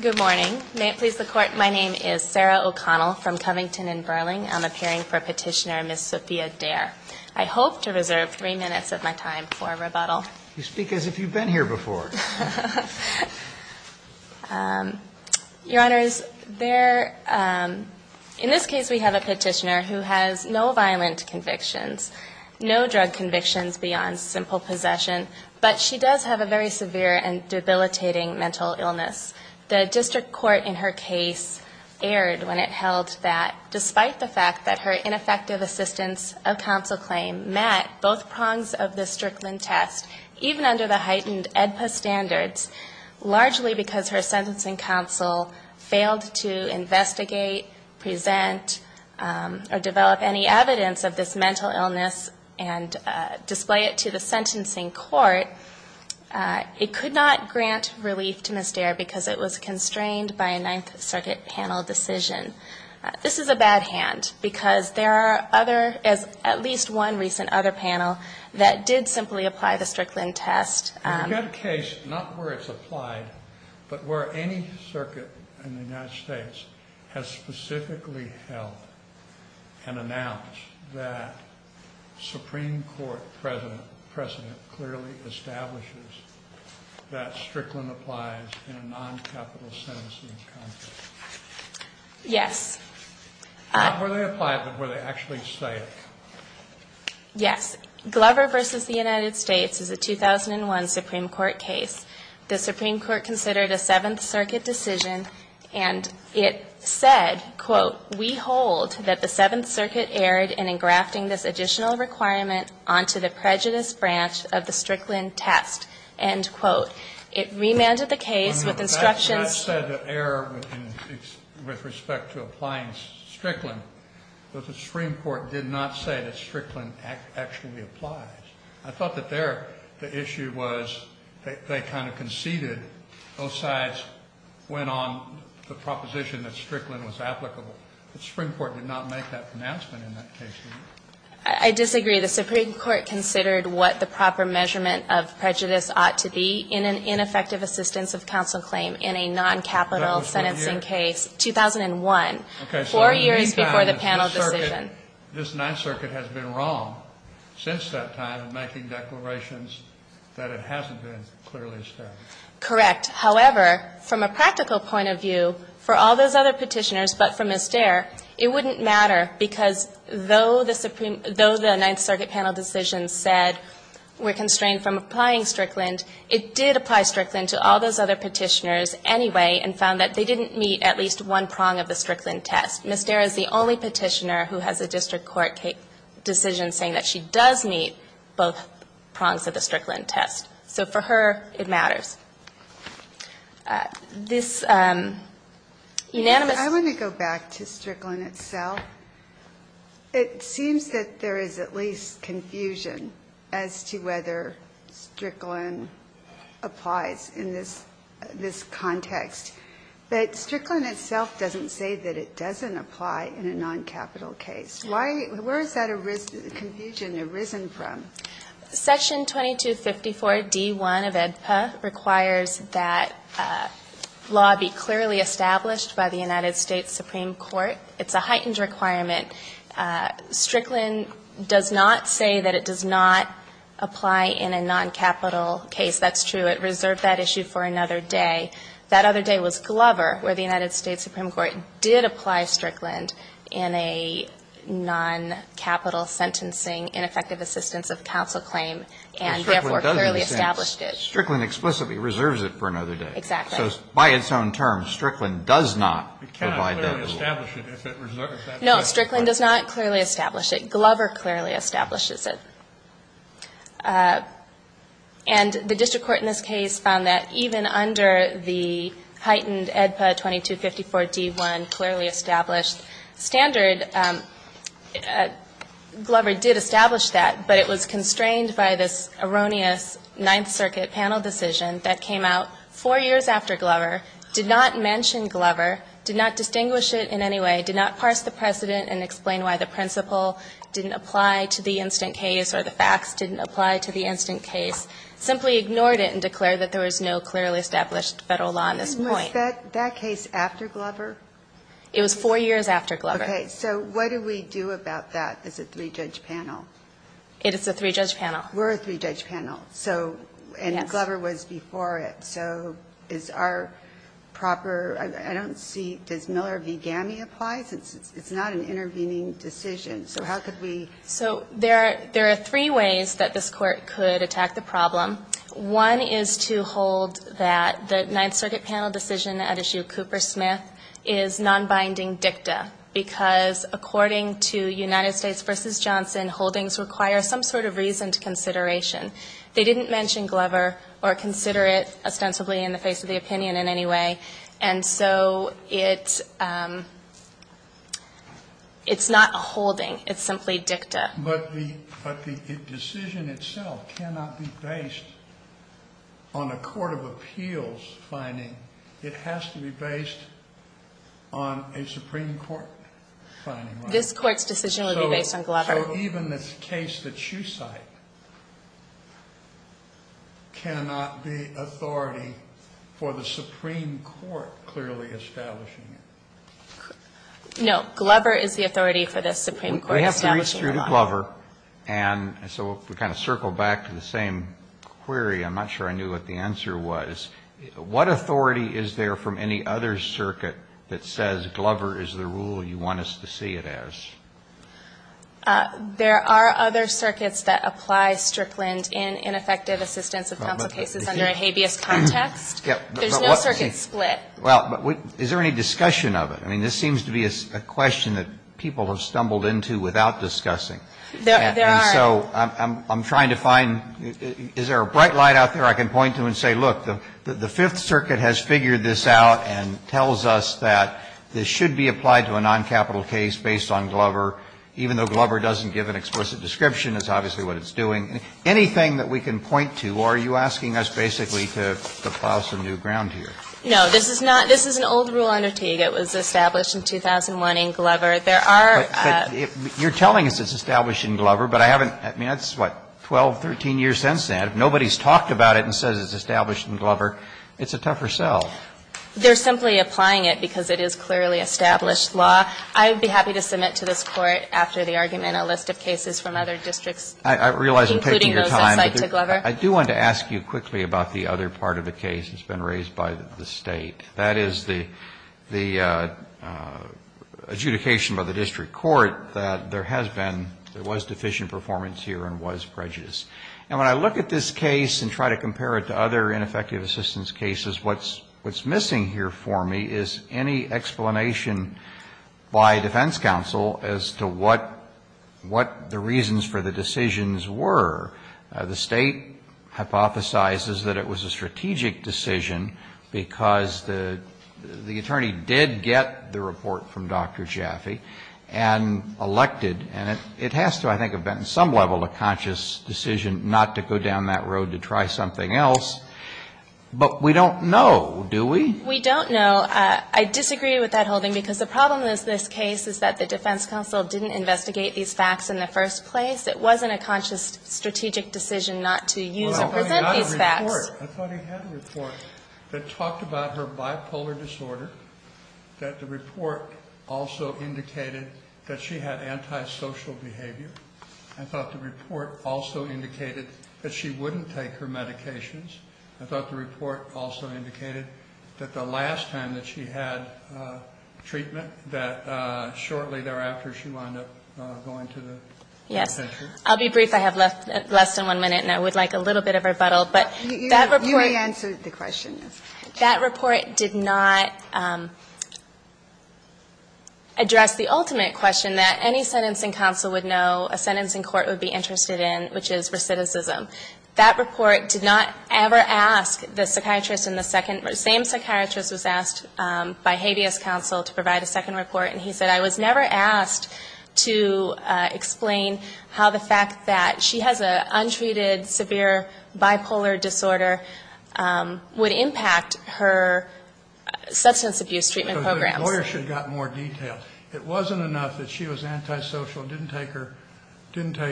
Good morning. May it please the Court, my name is Sarah O'Connell from Covington and Burling. I'm appearing for Petitioner, Ms. Sophia Daire. I hope to reserve three minutes of my time for rebuttal. You speak as if you've been here before. Your Honors, in this case we have a petitioner who has no violent convictions, no drug convictions beyond simple possession, but she does have a very severe and debilitating mental illness. The district court in her case erred when it held that despite the fact that her ineffective assistance of counsel claim met both prongs of the Strickland test, even under the heightened AEDPA standards, largely because her sentencing counsel failed to investigate, present, or develop any evidence of this mental illness and display it to the sentencing court, it could not grant relief to Ms. Daire because it was constrained by a Ninth Circuit panel decision. This is a bad hand because there are other, at least one recent other panel that did simply apply the Strickland test. In that case, not where it's applied, but where any circuit in the United States has specifically held and announced that Supreme Court precedent clearly establishes that Strickland applies in a non-capital sentencing context. Yes. Not where they apply it, but where they actually say it. Yes. Glover versus the United States is a 2001 Supreme Court case. The Supreme Court considered a Seventh Circuit decision and it said, quote, we hold that the Seventh Circuit erred in engrafting this additional requirement onto the prejudice branch of the Strickland test, end quote. It remanded the case with instructions. That said the error with respect to applying Strickland, but the Supreme Court did not say that Strickland actually applies. I thought that there, the issue was they kind of conceded both sides went on the proposition that Strickland was applicable. The Supreme Court did not make that announcement in that case. I disagree. The Supreme Court considered what the proper measurement of prejudice ought to be in an ineffective assistance of counsel claim in a non-capital sentencing case. 2001, four years before the panel decision. This Ninth Circuit has been wrong since that time of making declarations that it hasn't been clearly established. Correct. However, from a practical point of view, for all those other petitioners, but for Ms. Dare, it wouldn't matter because though the Ninth Circuit panel decision said we're constrained from applying Strickland, it did apply Strickland to all those other petitioners anyway and found that they didn't meet at least one prong of the Strickland test. Ms. Dare is the only petitioner who has a district court decision saying that she does meet both prongs of the Strickland test. So for her, it matters. This unanimous ---- I want to go back to Strickland itself. It seems that there is at least confusion as to whether Strickland applies in this context. But Strickland itself doesn't say that it doesn't apply in a non-capital case. Why ---- where has that confusion arisen from? Section 2254d1 of AEDPA requires that law be clearly established by the United States Supreme Court. It's a heightened requirement. Strickland does not say that it does not apply in a non-capital case. That's true. It reserved that issue for another day. That other day was Glover, where the United States Supreme Court did apply Strickland in a non-capital sentencing, ineffective assistance of counsel claim, and therefore clearly established it. Strickland explicitly reserves it for another day. Exactly. So by its own terms, Strickland does not provide that rule. It cannot clearly establish it if it reserves it. No, Strickland does not clearly establish it. Glover clearly establishes it. And the district court in this case found that even under the heightened AEDPA 2254d1 clearly established standard, Glover did establish that, but it was constrained by this erroneous Ninth Circuit panel decision that came out four years after Glover, did not mention Glover, did not distinguish it in any way, did not parse the precedent and explain why the principle didn't apply to the instant case or the facts didn't apply to the instant case, simply ignored it and declared that there was no clearly established Federal law on this point. And was that case after Glover? It was four years after Glover. Okay. So what do we do about that as a three-judge panel? It is a three-judge panel. We're a three-judge panel. So, and Glover was before it, so is our proper, I don't see, does Miller v. GAMI apply? Since it's not an intervening decision, so how could we? So there are three ways that this Court could attack the problem. One is to hold that the Ninth Circuit panel decision at issue Cooper-Smith is non-binding dicta, because according to United States v. Johnson, holdings require some sort of reasoned consideration. They didn't mention Glover or consider it ostensibly in the face of the opinion in any way. And so it's not a holding. It's simply dicta. But the decision itself cannot be based on a court of appeals finding. It has to be based on a Supreme Court finding, right? This Court's decision would be based on Glover. So even this case that you cite cannot be authority for the Supreme Court clearly establishing it? No. Glover is the authority for the Supreme Court establishing it. We have to re-extrude Glover. And so if we kind of circle back to the same query, I'm not sure I knew what the answer was. Well, I'm not sure I know what the answer is. I'm just trying to figure out how you want us to see it as. There are other circuits that apply Strickland in ineffective assistance of counsel cases under a habeas context. There's no circuit split. Well, but is there any discussion of it? I mean, this seems to be a question that people have stumbled into without discussing. There are. And so I'm trying to find, is there a bright light out there I can point to and say, look, the Fifth Circuit has figured this out and tells us that this should be applied to a noncapital case based on Glover, even though Glover doesn't give an explicit description. It's obviously what it's doing. Anything that we can point to, or are you asking us basically to plow some new ground here? No. This is not ‑‑ this is an old rule under Teague. It was established in 2001 in Glover. There are ‑‑ But you're telling us it's established in Glover, but I haven't ‑‑ I mean, that's what, 12, 13 years since then. If nobody's talked about it and says it's established in Glover, it's a tougher sell. They're simply applying it because it is clearly established law. I would be happy to submit to this Court, after the argument, a list of cases from other districts. I realize I'm taking your time, but I do want to ask you quickly about the other part of the case that's been raised by the State. That is the adjudication by the district court that there has been, there was deficient performance here and was prejudice. And when I look at this case and try to compare it to other ineffective assistance cases, what's missing here for me is any explanation by defense counsel as to what the reasons for the decisions were. The State hypothesizes that it was a strategic decision because the attorney did get the report from Dr. Jaffe and elected, and it has to, I think, have been at some level a conscious decision not to go down that road to try something else. But we don't know, do we? We don't know. I disagree with that holding because the problem with this case is that the defense counsel didn't investigate these facts in the first place. It wasn't a conscious strategic decision not to use or present these facts. I thought he had a report that talked about her bipolar disorder, that the report also indicated that she had antisocial behavior. I thought the report also indicated that she wouldn't take her medications. I thought the report also indicated that the last time that she had treatment, that shortly thereafter she wound up going to the pediatrician. I'll be brief. I have less than one minute, and I would like a little bit of rebuttal, but that report You may answer the question. That report did not address the ultimate question that any sentencing counsel would know about a sentencing court would be interested in, which is recidivism. That report did not ever ask the psychiatrist in the second, the same psychiatrist was asked by habeas counsel to provide a second report, and he said, I was never asked to explain how the fact that she has an untreated severe bipolar disorder would impact her substance abuse treatment programs. The lawyer should have gotten more detail. It wasn't enough that she was antisocial, didn't take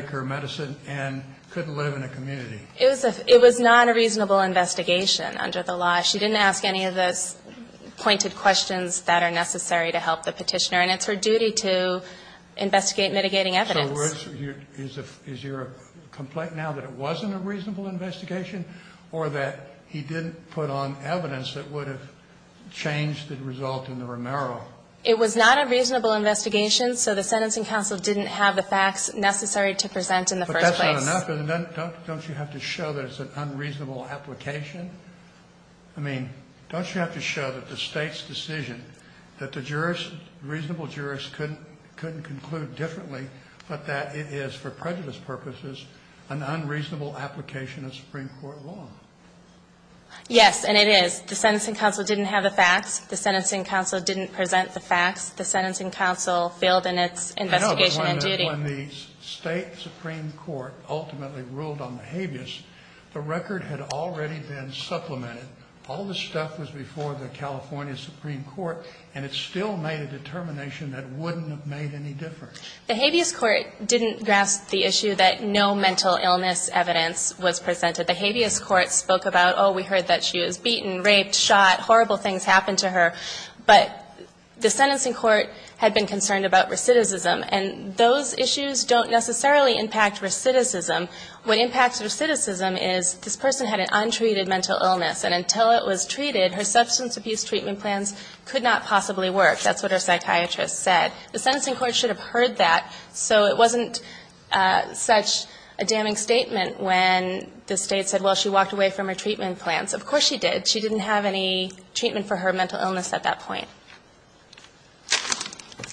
her medicine, and couldn't live in a community. It was not a reasonable investigation under the law. She didn't ask any of those pointed questions that are necessary to help the petitioner, and it's her duty to investigate mitigating evidence. Is your complaint now that it wasn't a reasonable investigation, or that he didn't put on evidence that would have changed the result in the Romero? It was not a reasonable investigation, so the sentencing counsel didn't have the facts necessary to present in the first place. But that's not enough. Don't you have to show that it's an unreasonable application? I mean, don't you have to show that the State's decision, that the jurors, reasonable jurors couldn't conclude differently, but that it is, for prejudice purposes, an unreasonable application of Supreme Court law? The sentencing counsel didn't have the facts. The sentencing counsel didn't present the facts. The sentencing counsel failed in its investigation and duty. I know, but when the State Supreme Court ultimately ruled on the habeas, the record had already been supplemented. All the stuff was before the California Supreme Court, and it still made a determination that wouldn't have made any difference. The habeas court didn't grasp the issue that no mental illness evidence was presented. The habeas court spoke about, oh, we heard that she was beaten, raped, shot, horrible things happened to her, but the sentencing court had been concerned about recidivism, and those issues don't necessarily impact recidivism. What impacts recidivism is this person had an untreated mental illness, and until it was treated, her substance abuse treatment plans could not possibly work. That's what her psychiatrist said. The sentencing court should have heard that. So it wasn't such a damning statement when the State said, well, she walked away from her treatment plans. Of course she did. But she didn't have any treatment for her mental illness at that point.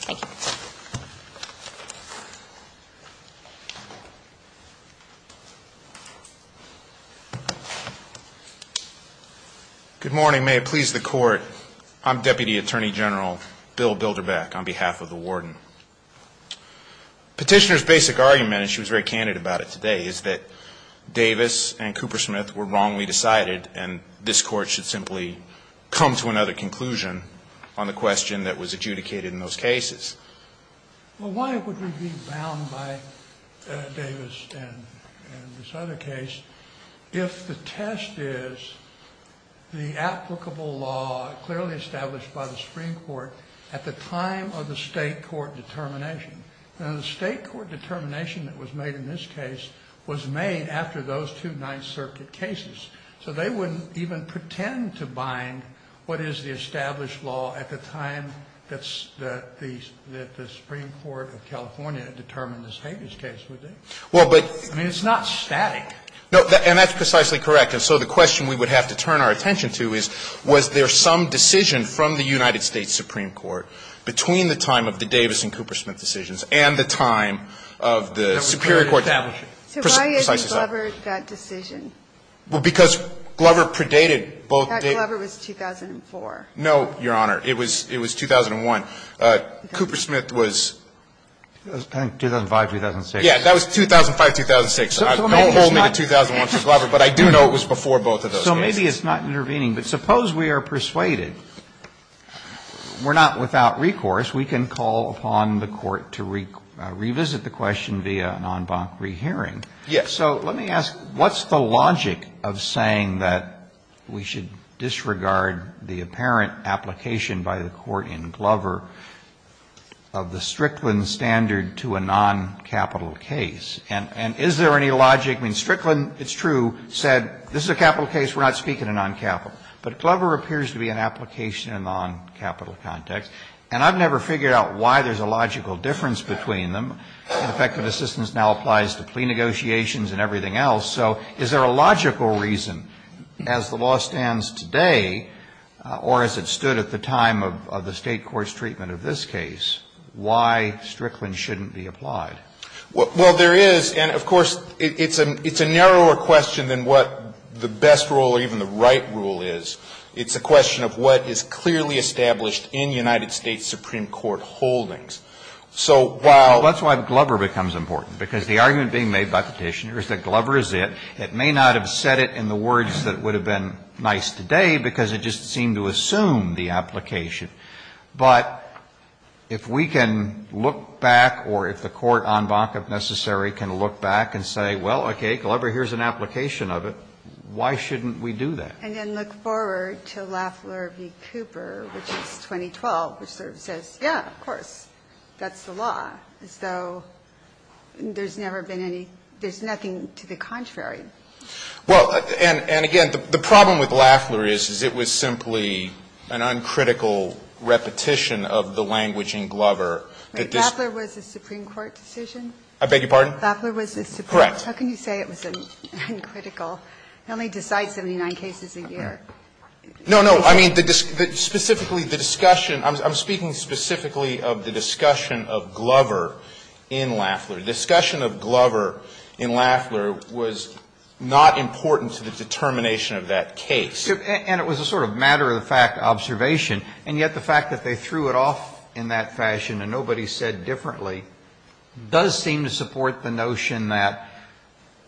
Thank you. Good morning. May it please the Court. I'm Deputy Attorney General Bill Bilderbeck on behalf of the Warden. Petitioner's basic argument, and she was very candid about it today, is that Davis and Coopersmith were wrongly decided, and this Court should simply come to another conclusion on the question that was adjudicated in those cases. Well, why would we be bound by Davis and this other case if the test is the applicable law clearly established by the Supreme Court at the time of the State court determination? Now, the State court determination that was made in this case was made after those two Supreme Court cases. So they wouldn't even pretend to bind what is the established law at the time that the Supreme Court of California had determined this Hagen's case would be. Well, but the question we would have to turn our attention to is, was there some decision from the United States Supreme Court between the time of the Davis and Coopersmith decisions and the time of the Superior Court decision? So why is Glover that decision? Well, because Glover predated both. That Glover was 2004. No, Your Honor. It was 2001. Coopersmith was. I think 2005, 2006. Yes, that was 2005, 2006. Don't hold me to 2001 for Glover, but I do know it was before both of those cases. So maybe it's not intervening. But suppose we are persuaded. We're not without recourse. We can call upon the Court to revisit the question via an en banc rehearing. Yes. So let me ask, what's the logic of saying that we should disregard the apparent application by the Court in Glover of the Strickland standard to a non-capital case? And is there any logic? I mean, Strickland, it's true, said this is a capital case. We're not speaking of non-capital. But Glover appears to be an application in a non-capital context. And I've never figured out why there's a logical difference between them. In effect, the decision now applies to plea negotiations and everything else. So is there a logical reason, as the law stands today or as it stood at the time of the State court's treatment of this case, why Strickland shouldn't be applied? Well, there is. And, of course, it's a narrower question than what the best rule or even the right rule is. It's a question of what is clearly established in United States Supreme Court holdings. So while- Well, that's why Glover becomes important. Because the argument being made by Petitioner is that Glover is it. It may not have said it in the words that would have been nice today, because it just seemed to assume the application. But if we can look back or if the Court en banc, if necessary, can look back and say, well, okay, Glover, here's an application of it, why shouldn't we do that? And then look forward to Lafleur v. Cooper, which is 2012, which sort of says, yeah, of course, that's the law, as though there's never been any – there's nothing to the contrary. Well, and again, the problem with Lafleur is, is it was simply an uncritical repetition of the language in Glover that this- Lafleur was a Supreme Court decision? I beg your pardon? Lafleur was a Supreme- Correct. How can you say it was uncritical? It only decides 79 cases a year. No, no. I mean, specifically the discussion – I'm speaking specifically of the discussion of Glover in Lafleur. The discussion of Glover in Lafleur was not important to the determination of that case. And it was a sort of matter-of-the-fact observation, and yet the fact that they threw that out there, I mean, it's an observation that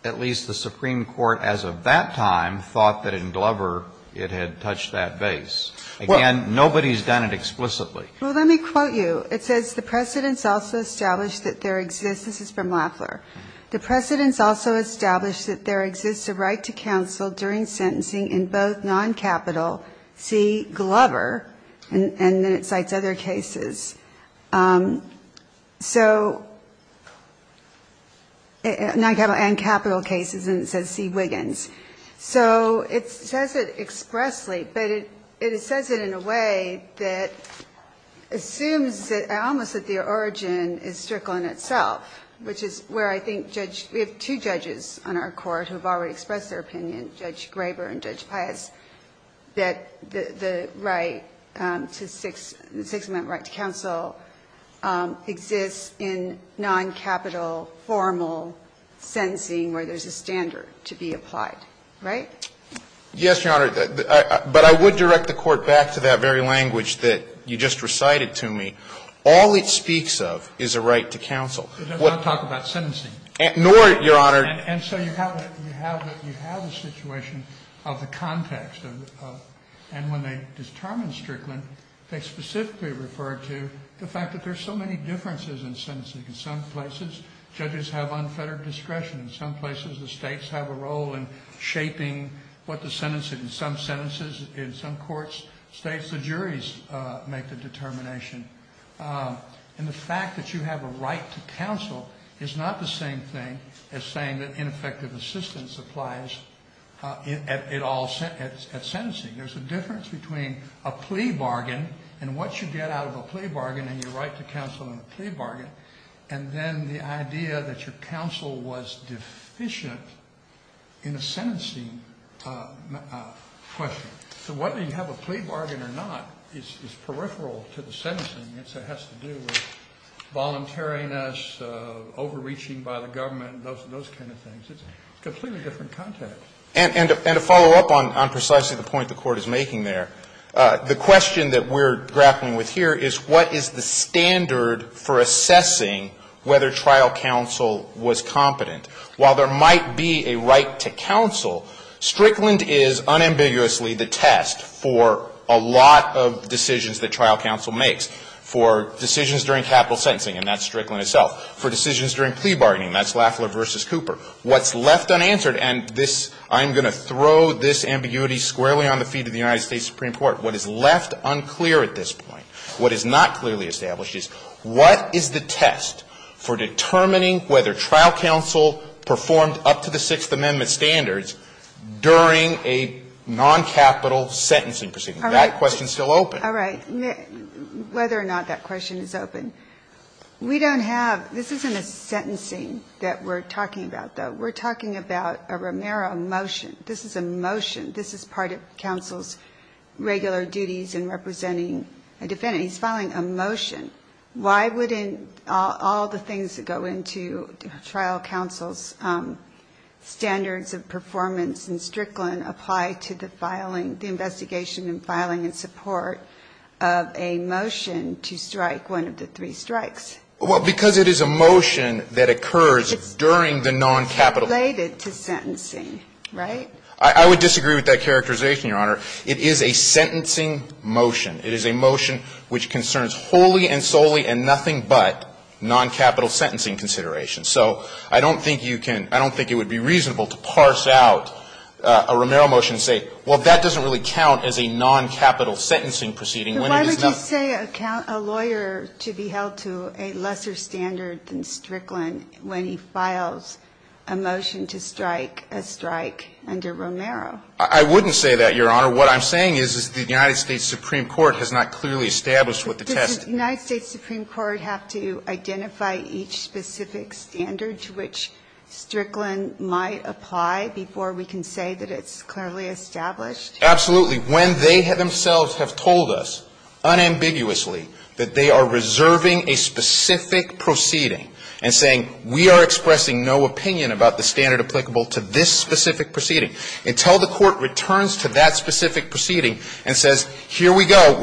at least the Supreme Court, as of that time, thought that in Glover it had touched that base. Again, nobody's done it explicitly. Well, let me quote you. It says, The precedents also establish that there exists – this is from Lafleur – The precedents also establish that there exists a right to counsel during sentencing in both non-capital C, Glover, and then it cites other cases. So – non-capital and capital cases, and it says C, Wiggins. So it says it expressly, but it says it in a way that assumes that almost that the origin is strickland itself, which is where I think Judge – we have two judges on our court who have already expressed their opinion, Judge Graber and Judge Pius, that the right to six – the six-amendment right to counsel exists in non-capital, formal sentencing where there's a standard to be applied, right? Yes, Your Honor. But I would direct the Court back to that very language that you just recited to me. All it speaks of is a right to counsel. It does not talk about sentencing. Nor, Your Honor – And so you have a situation of the context of – and when they determine strickland, they specifically refer to the fact that there's so many differences in sentencing. In some places, judges have unfettered discretion. In some places, the states have a role in shaping what the sentence – in some sentences, in some courts, states, the juries make the determination. And the fact that you have a right to counsel is not the same thing as saying that ineffective assistance applies at all – at sentencing. There's a difference between a plea bargain and what you get out of a plea bargain and your right to counsel in a plea bargain, and then the idea that your counsel was deficient in a sentencing question. So whether you have a plea bargain or not is peripheral to the sentencing. It has to do with voluntariness, overreaching by the government, those kind of things. It's a completely different context. And to follow up on precisely the point the Court is making there, the question that we're grappling with here is what is the standard for assessing whether trial counsel was competent? While there might be a right to counsel, Strickland is unambiguously the test for a lot of decisions that trial counsel makes, for decisions during capital sentencing, and that's Strickland itself, for decisions during plea bargaining, that's Lafler v. Cooper. What's left unanswered – and this – I'm going to throw this ambiguity squarely on the feet of the United States Supreme Court – what is left unclear at this point, what is not clearly established is what is the test for determining whether trial counsel performed up to the Sixth Amendment standards during a non-capital sentencing proceeding. That question is still open. All right. Whether or not that question is open. We don't have – this isn't a sentencing that we're talking about, though. We're talking about a Romero motion. This is a motion. This is part of counsel's regular duties in representing a defendant. He's filing a motion. Why wouldn't all the things that go into trial counsel's standards of performance in Strickland apply to the filing – the investigation and filing and support of a motion to strike one of the three strikes? Well, because it is a motion that occurs during the non-capital. It's related to sentencing, right? I would disagree with that characterization, Your Honor. It is a sentencing motion. It is a motion which concerns wholly and solely and nothing but non-capital sentencing considerations. So I don't think you can – I don't think it would be reasonable to parse out a Romero motion and say, well, that doesn't really count as a non-capital sentencing proceeding when it is not. But why would you say a lawyer to be held to a lesser standard than Strickland when he files a motion to strike a strike under Romero? I wouldn't say that, Your Honor. What I'm saying is, is the United States Supreme Court has not clearly established what the test is. But does the United States Supreme Court have to identify each specific standard to which Strickland might apply before we can say that it's clearly established? Absolutely. When they themselves have told us unambiguously that they are reserving a specific proceeding and saying, we are expressing no opinion about the standard applicable to this specific proceeding. Until the Court returns to that specific proceeding and says, here we go,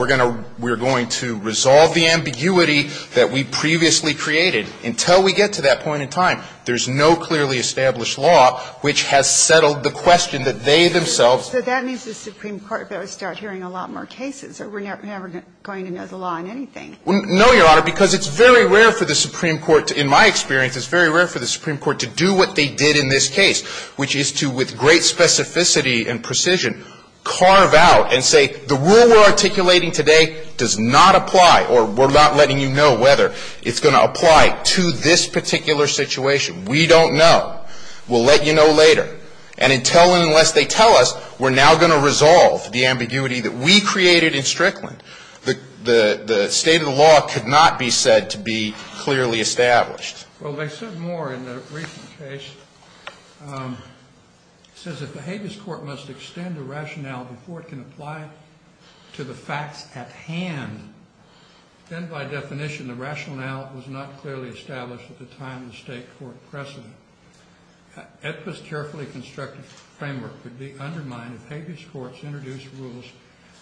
we are going to resolve the ambiguity that we previously created, until we get to that point in time, there is no clearly established law which has settled the question that they themselves. So that means the Supreme Court will start hearing a lot more cases, or we are never going to know the law on anything. No, Your Honor, because it's very rare for the Supreme Court, in my experience, it's very rare for the Supreme Court to do what they did in this case, which is to with great specificity and precision, carve out and say, the rule we are articulating today does not apply, or we are not letting you know whether it's going to apply to this particular situation. We don't know. We will let you know later. And until and unless they tell us, we are now going to resolve the ambiguity that we created in Strickland. The state of the law could not be said to be clearly established. Well, they said more in the recent case. It says, if the habeas court must extend the rationale before it can apply to the facts at hand, then by definition, the rationale was not clearly established at the time of the state court precedent. It was carefully constructed framework would be undermined if habeas courts introduced rules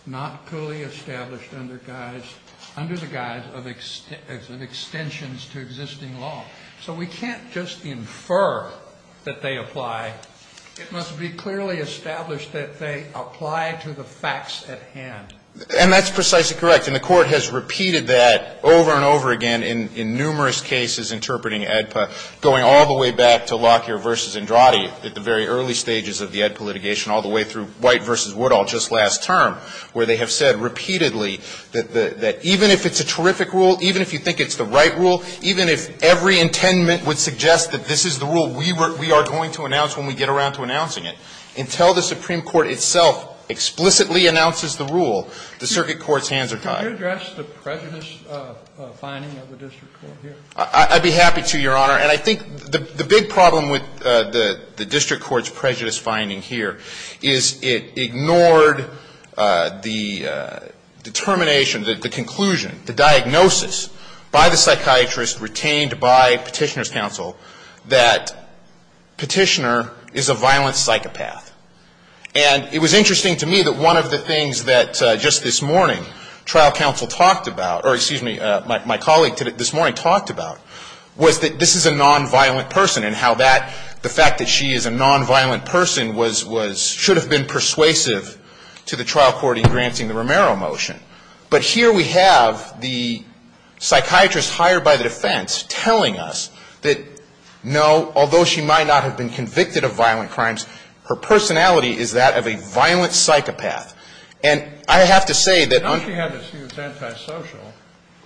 not fully established under the guise of extensions to existing law. So we can't just infer that they apply. It must be clearly established that they apply to the facts at hand. And that's precisely correct. And the Court has repeated that over and over again in numerous cases interpreting AEDPA, going all the way back to Lockyer v. Andrade at the very early stages of the AEDPA litigation, all the way through White v. Woodall just last term, where they have said repeatedly that even if it's a terrific rule, even if you think it's the right rule, even if every intendment would suggest that this is the rule we are going to announce when we get around to announcing it, until the Supreme Court itself explicitly announces the rule, the circuit court's hands are tied. Could you address the prejudiced finding of the district court here? I'd be happy to, Your Honor. And I think the big problem with the district court's prejudiced finding here is it ignored the determination, the conclusion, the diagnosis by the psychiatrist retained by Petitioner's counsel that Petitioner is a violent psychopath. And it was interesting to me that one of the things that just this morning trial counsel talked about, or excuse me, my colleague this morning talked about, was that this is a nonviolent person and how that, the fact that she is a nonviolent person was, should have been persuasive to the trial court in granting the Romero motion. But here we have the psychiatrist hired by the defense telling us that, no, although she might not have been convicted of violent crimes, her personality is that of a violent psychopath. And I have to say that unfortunately, she was antisocial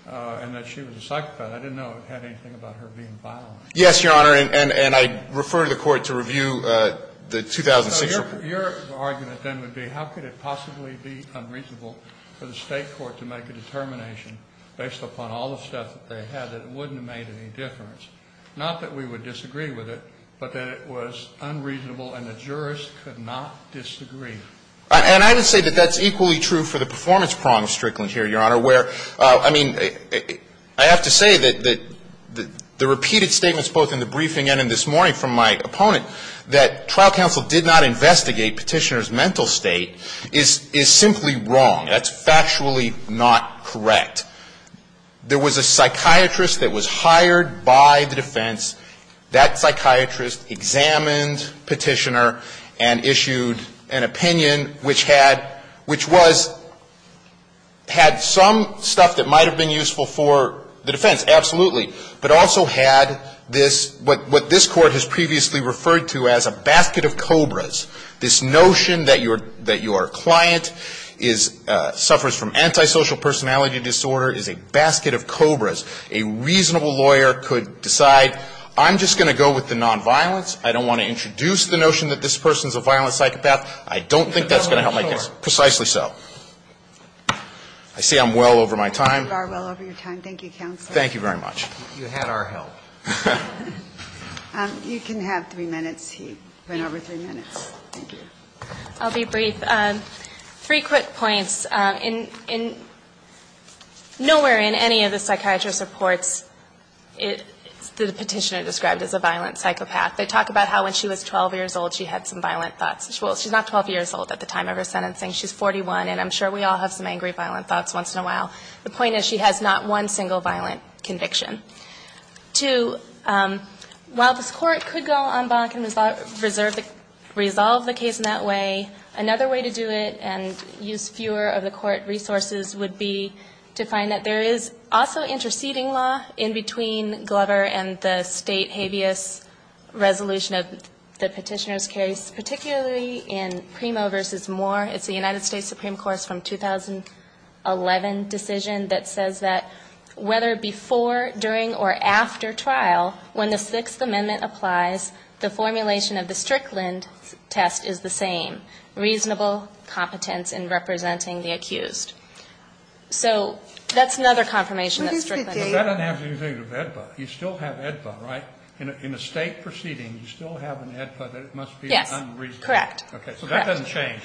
and that she was a psychopath. I didn't know it had anything about her being violent. Yes, Your Honor, and I refer to the court to review the 2006 report. Your argument then would be how could it possibly be unreasonable for the state court to make a determination based upon all the stuff that they had that it wouldn't have made any difference, not that we would disagree with it, but that it was unreasonable and the jurors could not disagree. And I would say that that's equally true for the performance prong of Strickland here, Your Honor, where, I mean, I have to say that the repeated statements both in the briefing and in this morning from my opponent that trial counsel did not investigate Petitioner's mental state is simply wrong. That's factually not correct. There was a psychiatrist that was hired by the defense. That psychiatrist examined Petitioner and issued an opinion which had, which was, had some stuff that might have been useful for the defense, absolutely, but also had this, what this Court has previously referred to as a basket of cobras. This notion that your, that your client is, suffers from antisocial personality disorder is a basket of cobras. A reasonable lawyer could decide, I'm just going to go with the nonviolence. I don't want to introduce the notion that this person's a violent psychopath. I don't think that's going to help my case. Precisely so. I say I'm well over my time. You are well over your time. Thank you, counsel. Thank you very much. You had our help. You can have three minutes. He went over three minutes. Thank you. I'll be brief. Three quick points. In, in nowhere in any of the psychiatrist's reports, it, the Petitioner described as a violent psychopath. They talk about how when she was 12 years old, she had some violent thoughts. Well, she's not 12 years old at the time of her sentencing. She's 41, and I'm sure we all have some angry, violent thoughts once in a while. The point is she has not one single violent conviction. Two, while this court could go on bonk and resolve the case in that way, another way to do it and use fewer of the court resources would be to find that there is also interceding law in between Glover and the state habeas resolution of the Petitioner's case, particularly in Primo v. Moore. It's the United States Supreme Court's from 2011 decision that says that whether before, during, or after trial, when the Sixth Amendment applies, the formulation of the Strickland test is the same, reasonable competence in representing the accused. So that's another confirmation that Strickland has. But that doesn't have anything to do with AEDPA. You still have AEDPA, right? In a, in a state proceeding, you still have an AEDPA that it must be unreasonable. Yes, correct. Okay. So that doesn't change.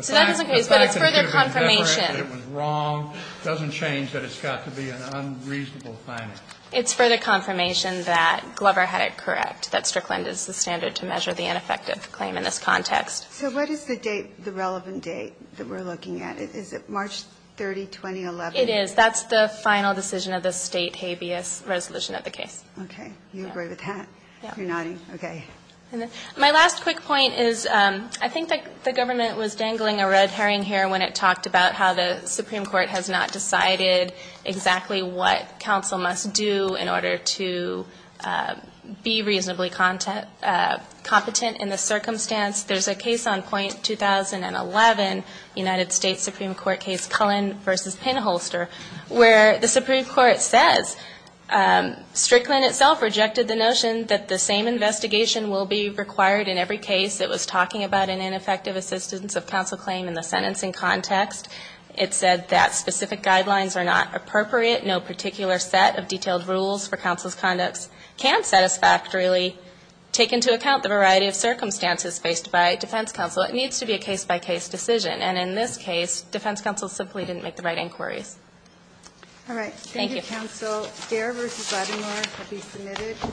So that doesn't change, but it's further confirmation. The fact that it was different, that it was wrong, doesn't change that it's got to be an unreasonable finding. It's further confirmation that Glover had it correct, that Strickland is the standard to measure the ineffective claim in this context. So what is the date, the relevant date that we're looking at? Is it March 30, 2011? It is. That's the final decision of the state habeas resolution of the case. Okay. You agree with that? Yeah. You're nodding. Okay. My last quick point is I think that the government was dangling a red herring here when it talked about how the Supreme Court has not decided exactly what counsel must do in order to be reasonably competent in the circumstance. There's a case on point 2011, United States Supreme Court case Cullen v. Pinholster, where the Supreme Court says Strickland itself rejected the notion that the same investigation will be required in every case. It was talking about an ineffective assistance of counsel claim in the sentencing context. It said that specific guidelines are not appropriate. No particular set of detailed rules for counsel's conducts can satisfactorily take into account the variety of circumstances faced by defense counsel. It needs to be a case-by-case decision. And in this case, defense counsel simply didn't make the right inquiries. All right. Thank you. Thank you, counsel. Gair v. Labrador will be submitted.